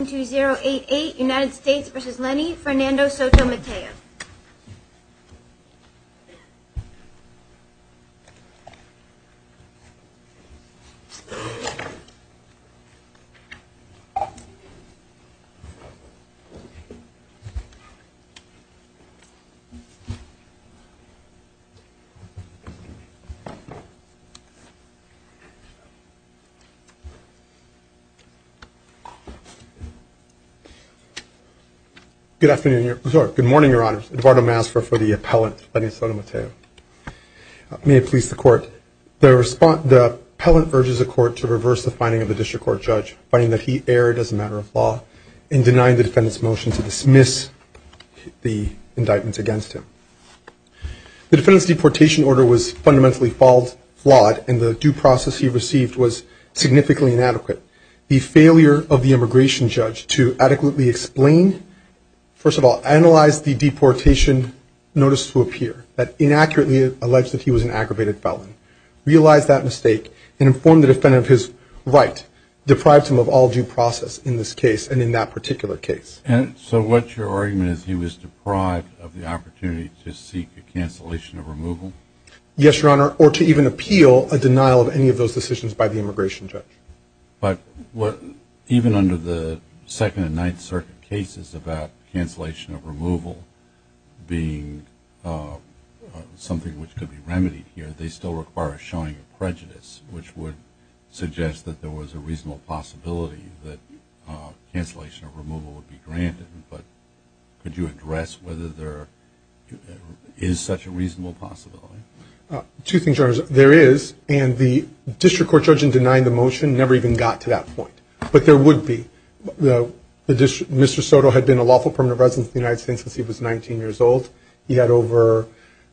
United States v. Lenny Fernando Soto-Mateo Good morning, Your Honors. Eduardo Masfer for the appellant, Lenny Soto-Mateo. May it please the Court. The appellant urges the Court to reverse the finding of the district court judge, finding that he erred as a matter of law, and denying the defendant's motion to dismiss the indictment against him. The defendant's deportation order was fundamentally flawed, and the due process he received was significantly inadequate. The failure of the immigration judge to adequately explain, first of all, analyze the deportation notice to appear, that inaccurately alleged that he was an aggravated felon, realize that mistake, and inform the defendant of his right, deprives him of all due process in this case and in that particular case. And so what's your argument is he was deprived of the opportunity to seek a cancellation of removal? Yes, Your Honor, or to even appeal a denial of any of those decisions by the immigration judge. But even under the Second and Ninth Circuit cases about cancellation of removal being something which could be remedied here, they still require a showing of prejudice, which would suggest that there was a reasonable possibility that cancellation of removal would be granted. But could you address whether there is such a reasonable possibility? Two things, Your Honor. There is, and the district court judge in denying the motion never even got to that point. But there would be. Mr. Soto had been a lawful permanent resident of the United States since he was 19 years old. He had over, I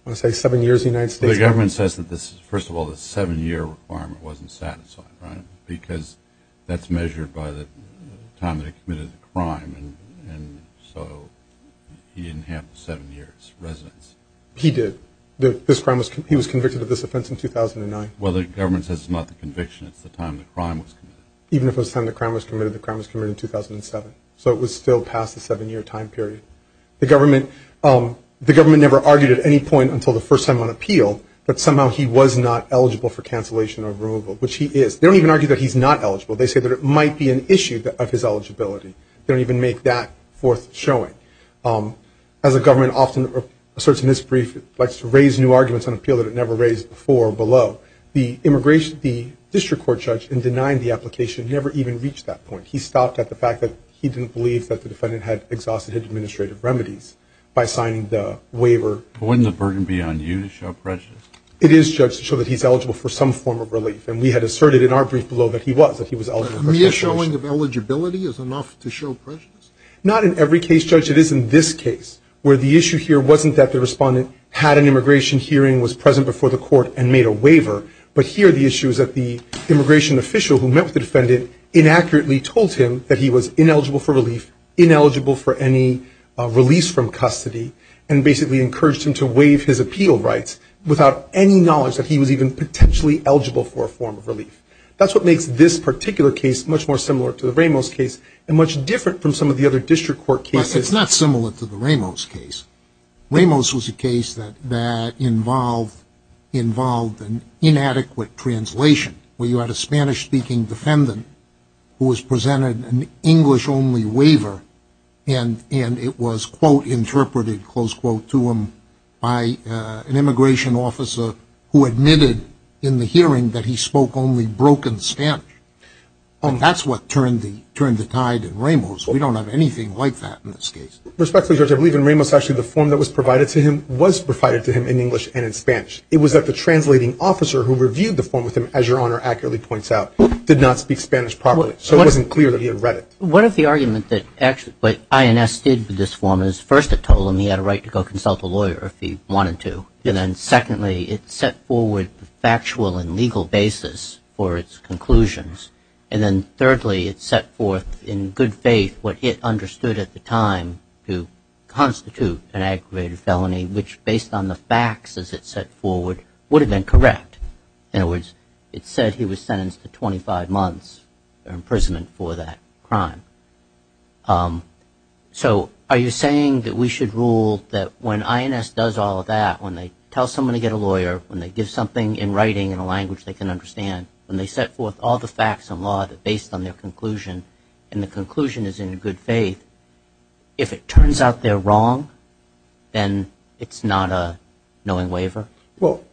want to say, seven years in the United States. But the government says that, first of all, the seven-year requirement wasn't satisfied, right? Because that's measured by the time that he committed the crime, and so he didn't have the seven years residence. He did. He was convicted of this offense in 2009. Well, the government says it's not the conviction, it's the time the crime was committed. Even if it was the time the crime was committed, the crime was committed in 2007. So it was still past the seven-year time period. The government never argued at any point until the first time on appeal that somehow he was not eligible for cancellation of removal, which he is. They don't even argue that he's not eligible. They say that it might be an issue of his eligibility. They don't even make that forth showing. As the government often asserts in this brief, it likes to raise new arguments on appeal that it never raised before or below. The district court judge in denying the application never even reached that point. He stopped at the fact that he didn't believe that the defendant had exhausted his administrative remedies by signing the waiver. But wouldn't the burden be on you to show prejudice? It is, Judge, to show that he's eligible for some form of relief, and we had asserted in our brief below that he was, that he was eligible for cancellation. But mere showing of eligibility is enough to show prejudice? Not in every case, Judge. It is in this case, where the issue here wasn't that the respondent had an immigration hearing, was present before the court, and made a waiver, but here the issue is that the immigration official who met with the defendant inaccurately told him that he was ineligible for relief, ineligible for any release from custody, and basically encouraged him to waive his appeal rights without any knowledge that he was even potentially eligible for a form of relief. That's what makes this particular case much more similar to the Ramos case and much different from some of the other district court cases. But it's not similar to the Ramos case. Ramos was a case that involved an inadequate translation, where you had a Spanish-speaking defendant who was presented an English-only waiver, and it was, quote, interpreted, close quote, to him by an immigration officer who admitted in the hearing that he spoke only broken Spanish. And that's what turned the tide in Ramos. We don't have anything like that in this case. Respectfully, Judge, I believe in Ramos, actually the form that was provided to him was provided to him in English and in Spanish. It was that the translating officer who reviewed the form with him, as Your Honor accurately points out, did not speak Spanish properly. So it wasn't clear that he had read it. One of the arguments that INS did with this form is, first, it told him he had a right to go consult a lawyer if he wanted to. And then, secondly, it set forward a factual and legal basis for its conclusions. And then, thirdly, it set forth in good faith what it understood at the time to constitute an aggravated felony, which, based on the facts as it set forward, would have been correct. In other words, it said he was sentenced to 25 months imprisonment for that crime. So are you saying that we should rule that when INS does all of that, when they tell someone to get a lawyer, when they give something in writing in a language they can understand, when they set forth all the facts and law based on their conclusion, and the conclusion is in good faith, if it turns out they're wrong, then it's not a knowing waiver? Well,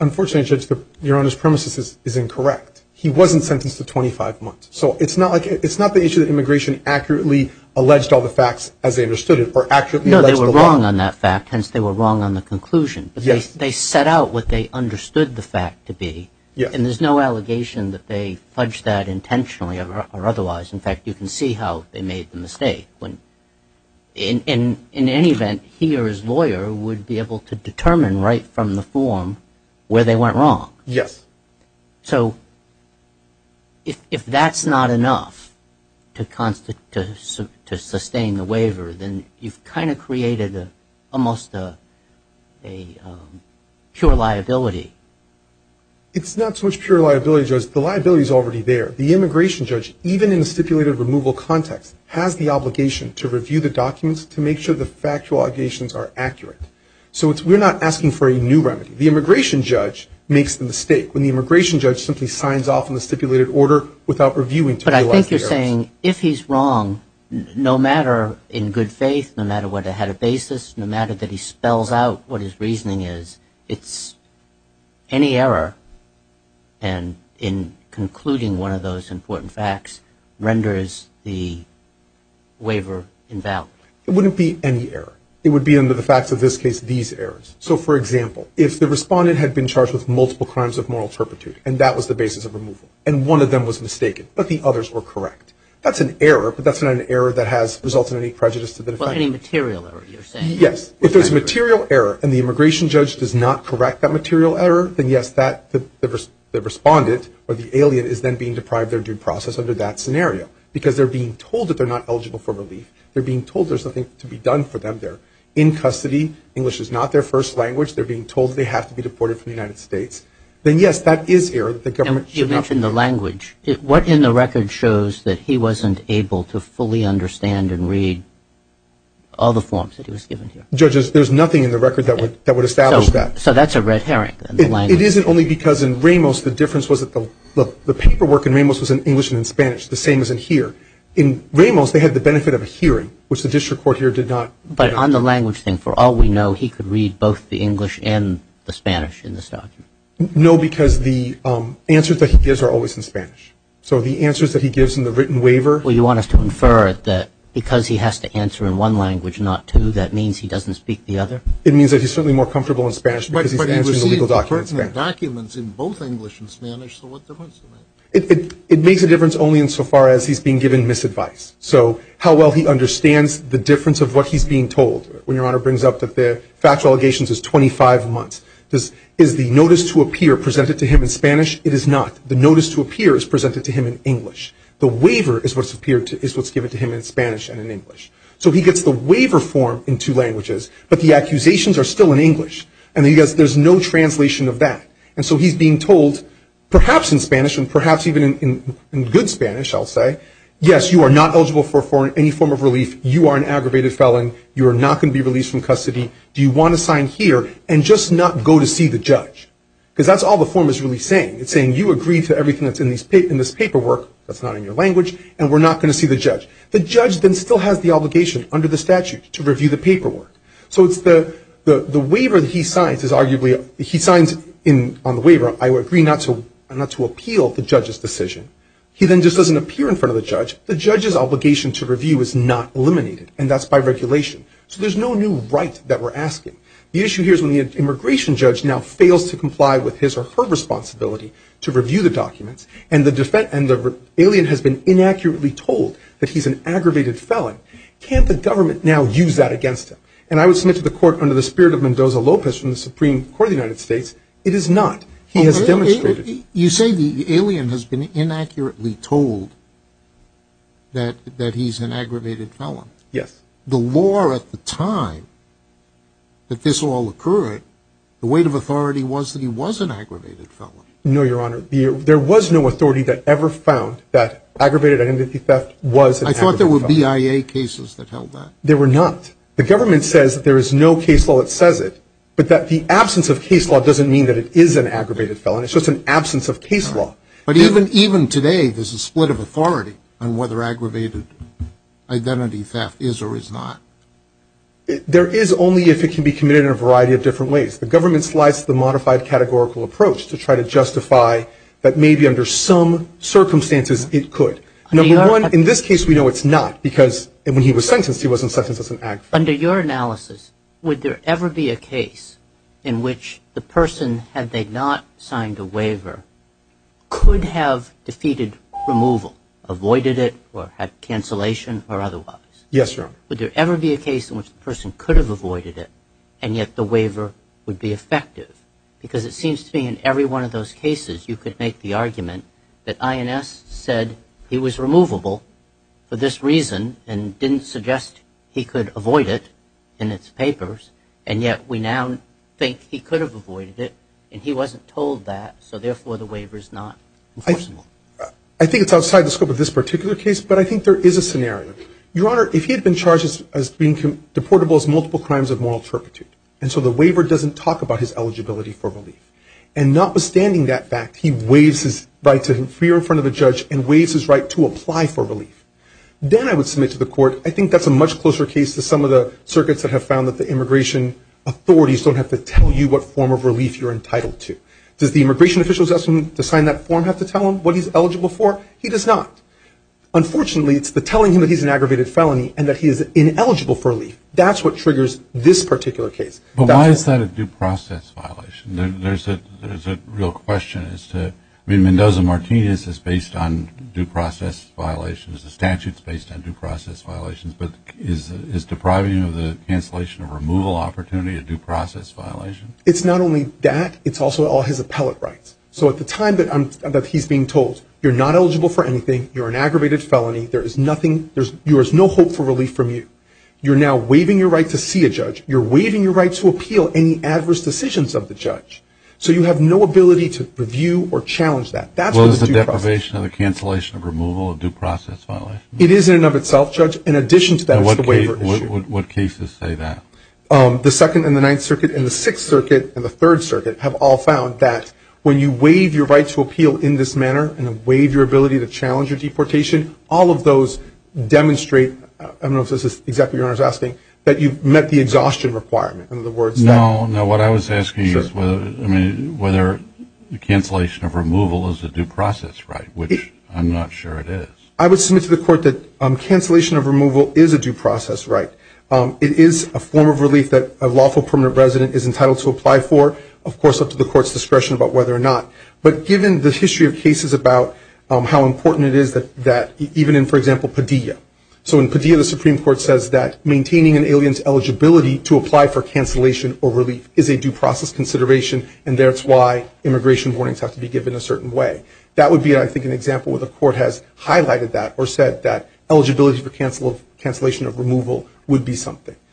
unfortunately, Your Honor's premise is incorrect. He wasn't sentenced to 25 months. So it's not the issue that immigration accurately alleged all the facts as they understood it, or accurately alleged the law. No, they were wrong on that fact, hence they were wrong on the conclusion. But they set out what they understood the fact to be, and there's no allegation that they fudged that intentionally or otherwise. In fact, you can see how they made the mistake. In any event, he or his lawyer would be able to determine right from the form where they went wrong. So if that's not enough to sustain the waiver, then you've kind of created almost a pure liability. It's not so much pure liability, Judge, the liability's already there. The immigration judge, even in the stipulated removal context, has the obligation to review the documents to make sure the factual allegations are accurate. So we're not asking for a new remedy. The immigration judge makes the mistake when the immigration judge simply signs off on the stipulated order without reviewing to realize the errors. But I think you're saying if he's wrong, no matter in good faith, no matter what ahead of basis, no matter that he spells out what his reasoning is, it's any error, and in concluding one of those important facts, renders the waiver invalid. It wouldn't be any error. It would be, under the facts of this case, these errors. So, for example, if the respondent had been charged with multiple crimes of moral turpitude, and that was the basis of removal, and one of them was mistaken, but the others were correct, that's an error, but that's not an error that has resulted in any prejudice to the defendant. Yes, if there's material error and the immigration judge does not correct that material error, then, yes, the respondent or the alien is then being deprived their due process under that scenario, because they're being told that they're not eligible for relief. They're being told there's nothing to be done for them there. In custody, English is not their first language. They're being told they have to be deported from the United States. Then, yes, that is error that the government should not be doing. And you mentioned the language. What in the record shows that he wasn't able to fully understand and read all the forms that he was given here? Judges, there's nothing in the record that would establish that. So that's a red herring in the language. It isn't only because in Ramos the difference was that the paperwork in Ramos was in English and in Spanish, the same as in here. In Ramos, they had the benefit of a hearing, which the district court here did not. But on the language thing, for all we know, he could read both the English and the Spanish in this document. No, because the answers that he gives are always in Spanish. So the answers that he gives in the written waiver. Well, you want us to infer that because he has to answer in one language, not two, that means he doesn't speak the other? It means that he's certainly more comfortable in Spanish because he's answering the legal documents in Spanish. But he received the pertinent documents in both English and Spanish, so what difference does that make? It makes a difference only insofar as he's being given misadvice, so how well he understands the difference of what he's being told. When Your Honor brings up that the factual allegations is 25 months, is the notice to appear presented to him in Spanish? It is not. The notice to appear is presented to him in English. The waiver is what's given to him in Spanish and in English. So he gets the waiver form in two languages, but the accusations are still in English, and there's no translation of that. And so he's being told, perhaps in Spanish and perhaps even in good Spanish, I'll say, yes, you are not eligible for any form of relief. You are an aggravated felon. You are not going to be released from custody. Do you want to sign here and just not go to see the judge? Because that's all the form is really saying. It's saying you agree to everything that's in this paperwork that's not in your language, and we're not going to see the judge. The judge then still has the obligation under the statute to review the paperwork. So it's the waiver that he signs is arguably he signs on the waiver, I agree not to appeal the judge's decision. He then just doesn't appear in front of the judge. The judge's obligation to review is not eliminated, and that's by regulation. So there's no new right that we're asking. The issue here is when the immigration judge now fails to comply with his or her responsibility to review the documents and the alien has been inaccurately told that he's an aggravated felon, can't the government now use that against him? And I would submit to the court under the spirit of Mendoza Lopez from the Supreme Court of the United States, it is not. He has demonstrated. You say the alien has been inaccurately told that he's an aggravated felon. Yes. The law at the time that this all occurred, the weight of authority was that he was an aggravated felon. No, Your Honor. There was no authority that ever found that aggravated identity theft was an aggravated felon. I thought there were BIA cases that held that. There were not. The government says that there is no case law that says it, but that the absence of case law doesn't mean that it is an aggravated felon. It's just an absence of case law. But even today there's a split of authority on whether aggravated identity theft is or is not. There is only if it can be committed in a variety of different ways. The government slides the modified categorical approach to try to justify that maybe under some circumstances it could. Number one, in this case we know it's not because when he was sentenced he wasn't sentenced as an aggravated felon. Under your analysis, would there ever be a case in which the person, had they not signed a waiver, could have defeated removal, avoided it or had cancellation or otherwise? Yes, Your Honor. Would there ever be a case in which the person could have avoided it and yet the waiver would be effective? Because it seems to me in every one of those cases you could make the argument that INS said he was removable for this reason and didn't suggest he could avoid it in its papers, and yet we now think he could have avoided it and he wasn't told that, so therefore the waiver is not enforceable. I think it's outside the scope of this particular case, but I think there is a scenario. Your Honor, if he had been charged as being deportable as multiple crimes of moral turpitude, and so the waiver doesn't talk about his eligibility for relief, and notwithstanding that fact, he waives his right to appear in front of a judge and waives his right to apply for relief, then I would submit to the court, I think that's a much closer case to some of the circuits that have found that the immigration authorities don't have to tell you what form of relief you're entitled to. Does the immigration official's asking him to sign that form have to tell him what he's eligible for? He does not. Unfortunately, it's the telling him that he's an aggravated felony and that he is ineligible for relief, that's what triggers this particular case. But why is that a due process violation? There's a real question as to, I mean, Mendoza-Martinez is based on due process violations, the statute's based on due process violations, but is depriving him of the cancellation of removal opportunity a due process violation? It's not only that, it's also all his appellate rights. So at the time that he's being told, you're not eligible for anything, you're an aggravated felony, there is no hope for relief from you. You're now waiving your right to see a judge, you're waiving your right to appeal any adverse decisions of the judge. So you have no ability to review or challenge that. Well, is the deprivation of the cancellation of removal a due process violation? It is in and of itself, Judge. In addition to that, it's the waiver issue. What cases say that? The Second and the Ninth Circuit and the Sixth Circuit and the Third Circuit have all found that when you waive your right to appeal in this manner and waive your ability to challenge your deportation, all of those demonstrate, I don't know if this is exactly what your Honor is asking, that you've met the exhaustion requirement. No, no, what I was asking is whether the cancellation of removal is a due process right, which I'm not sure it is. I would submit to the Court that cancellation of removal is a due process right. It is a form of relief that a lawful permanent resident is entitled to apply for, of course, up to the Court's discretion about whether or not. But given the history of cases about how important it is that even in, for example, Padilla. So in Padilla, the Supreme Court says that maintaining an alien's eligibility to apply for cancellation or relief is a due process consideration, and that's why immigration warnings have to be given a certain way. That would be, I think, an example where the Court has highlighted that or said that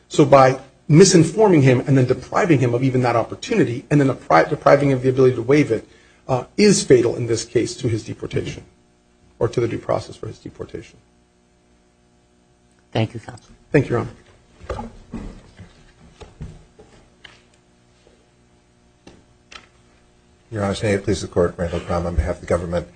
So by misinforming him and then depriving him of even that opportunity and then depriving him of the ability to waive it is fatal in this case to his deportation or to the due process for his deportation. Thank you, Counselor. Thank you, Your Honor. Your Honor, may it please the Court, Randall Crum on behalf of the government.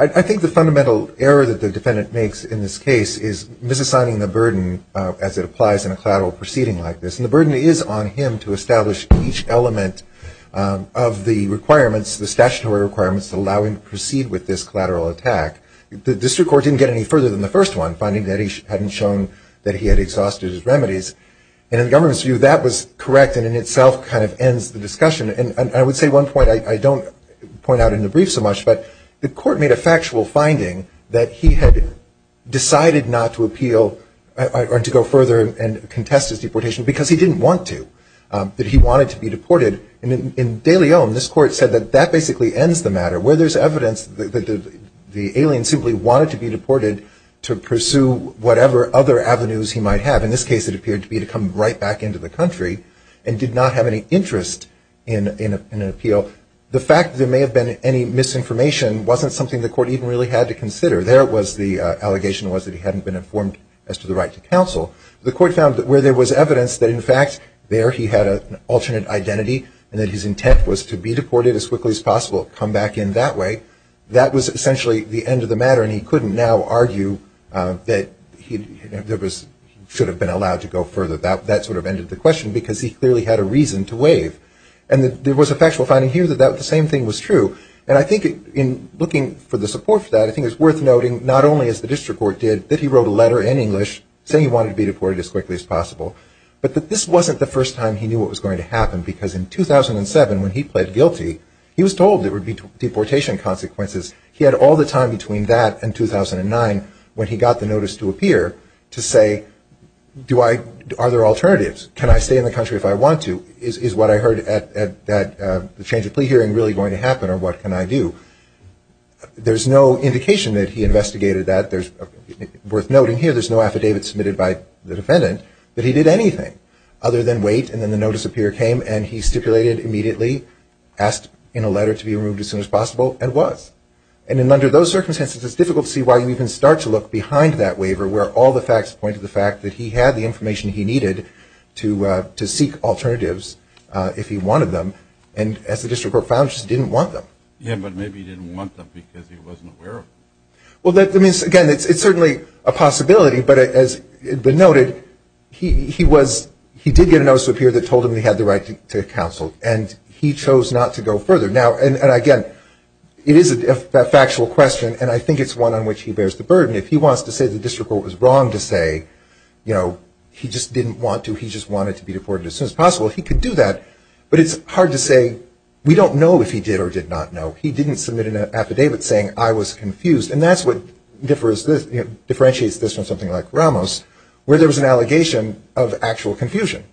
I think the fundamental error that the defendant makes in this case is misassigning the burden as it applies in a collateral proceeding like this. And the burden is on him to establish each element of the requirements, the statutory requirements to allow him to proceed with this collateral attack. The district court didn't get any further than the first one, finding that he hadn't shown that he had exhausted his remedies. And in the government's view, that was correct and in itself kind of ends the discussion. And I would say one point I don't point out in the brief so much, but the Court made a factual finding that he had decided not to appeal or to go further and contest his deportation because he didn't want to, that he wanted to be deported. And in De Leon, this Court said that that basically ends the matter, where there's evidence that the alien simply wanted to be deported to pursue whatever other avenues he might have. In this case, it appeared to be to come right back into the country and did not have any interest in an appeal. The fact that there may have been any misinformation wasn't something the Court even really had to consider. There was the allegation was that he hadn't been informed as to the right to counsel. The Court found that where there was evidence that, in fact, there he had an alternate identity and that his intent was to be deported as quickly as possible, come back in that way, that was essentially the end of the matter. And he couldn't now argue that he should have been allowed to go further. That sort of ended the question because he clearly had a reason to waive. And there was a factual finding here that the same thing was true. And I think in looking for the support for that, I think it's worth noting not only, as the District Court did, that he wrote a letter in English saying he wanted to be deported as quickly as possible, but that this wasn't the first time he knew what was going to happen because in 2007, when he pled guilty, he was told there would be deportation consequences. He had all the time between that and 2009 when he got the notice to appear to say, are there alternatives? Can I stay in the country if I want to? Is what I heard at the change of plea hearing really going to happen, or what can I do? There's no indication that he investigated that. Worth noting here, there's no affidavit submitted by the defendant that he did anything other than wait, and then the notice appear came, and he stipulated immediately, asked in a letter to be removed as soon as possible, and was. And under those circumstances, it's difficult to see why you even start to look behind that waiver where all the facts point to the fact that he had the information he needed to seek alternatives if he wanted them, and as the District Court found, just didn't want them. Yeah, but maybe he didn't want them because he wasn't aware of them. Well, again, it's certainly a possibility, but as has been noted, he did get a notice to appear that told him he had the right to counsel, and he chose not to go further. Now, again, it is a factual question, and I think it's one on which he bears the burden. If he wants to say the District Court was wrong to say, you know, he just didn't want to, he just wanted to be deported as soon as possible, he could do that, but it's hard to say we don't know if he did or did not know. He didn't submit an affidavit saying I was confused, and that's what differentiates this from something like Ramos, where there was an allegation of actual confusion,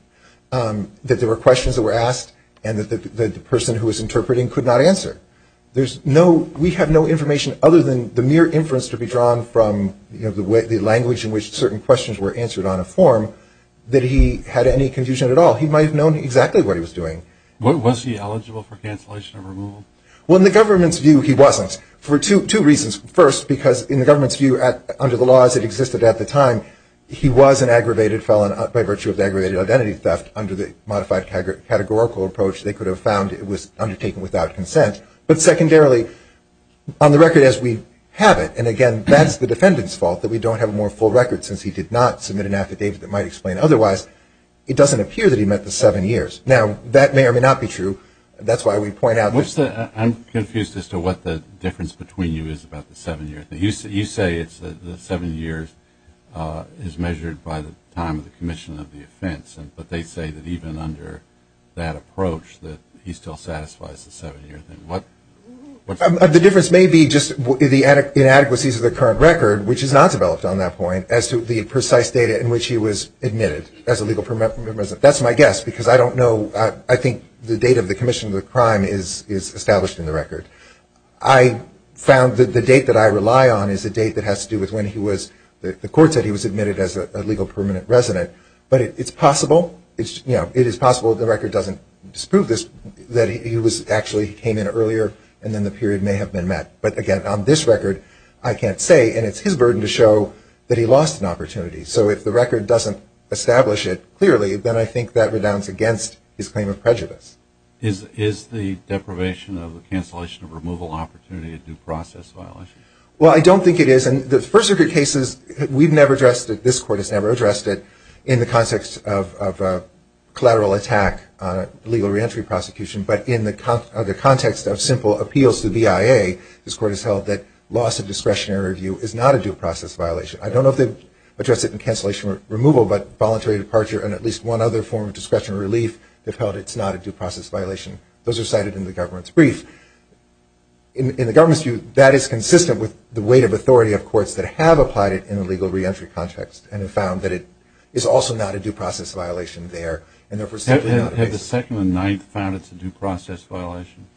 that there were questions that were asked and that the person who was interpreting could not answer. There's no, we have no information other than the mere inference to be drawn from, you know, the language in which certain questions were answered on a form that he had any confusion at all. He might have known exactly what he was doing. Was he eligible for cancellation or removal? Well, in the government's view, he wasn't, for two reasons. First, because in the government's view, under the laws that existed at the time, he was an aggravated felon by virtue of the aggravated identity theft under the modified categorical approach they could have found it was undertaken without consent. But secondarily, on the record as we have it, and again that's the defendant's fault that we don't have a more full record since he did not submit an affidavit that might explain otherwise, it doesn't appear that he met the seven years. Now, that may or may not be true. That's why we point out this. I'm confused as to what the difference between you is about the seven years. You say the seven years is measured by the time of the commission of the offense, but they say that even under that approach that he still satisfies the seven-year thing. The difference may be just the inadequacies of the current record, which is not developed on that point, as to the precise date in which he was admitted as a legal permanent resident. That's my guess because I don't know. I think the date of the commission of the crime is established in the record. I found that the date that I rely on is a date that has to do with when he was, the court said he was admitted as a legal permanent resident, but it's possible, you know, it is possible the record doesn't disprove this, that he actually came in earlier and then the period may have been met. But, again, on this record, I can't say, and it's his burden to show that he lost an opportunity. So if the record doesn't establish it clearly, then I think that redounds against his claim of prejudice. Is the deprivation of the cancellation of removal opportunity a due process violation? Well, I don't think it is. And the first of the cases, we've never addressed it, this court has never addressed it, in the context of a collateral attack on a legal reentry prosecution, but in the context of simple appeals to the BIA, this court has held that loss of discretionary review is not a due process violation. I don't know if they've addressed it in cancellation removal, but voluntary departure and at least one other form of discretionary relief have held it's not a due process violation. Those are cited in the government's brief. In the government's view, that is consistent with the weight of authority of courts that have applied it in a legal reentry context and have found that it is also not a due process violation there. Have the Second and Ninth found it's a due process violation?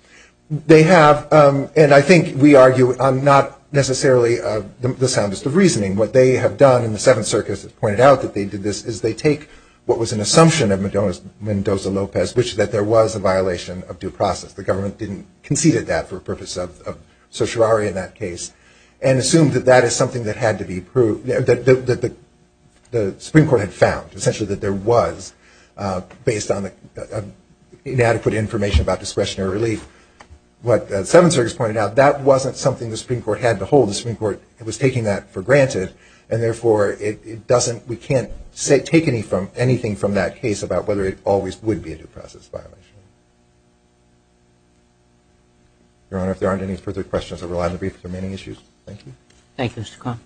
They have, and I think we argue on not necessarily the soundest of reasoning. What they have done in the Seventh Circuit, as it's pointed out, that they did this, is they take what was an assumption of Mendoza-Lopez, which is that there was a violation of due process. The government conceded that for the purpose of certiorari in that case and assumed that that is something that had to be proved, that the Supreme Court had found, essentially that there was, based on inadequate information about discretionary relief. What the Seventh Circuit has pointed out, that wasn't something the Supreme Court had to hold. The Supreme Court was taking that for granted, and therefore it doesn't, we can't take anything from that case about whether it always would be a due process violation. Your Honor, if there aren't any further questions, I'll rely on the brief for the remaining issues. Thank you. Thank you, Mr. Kahn.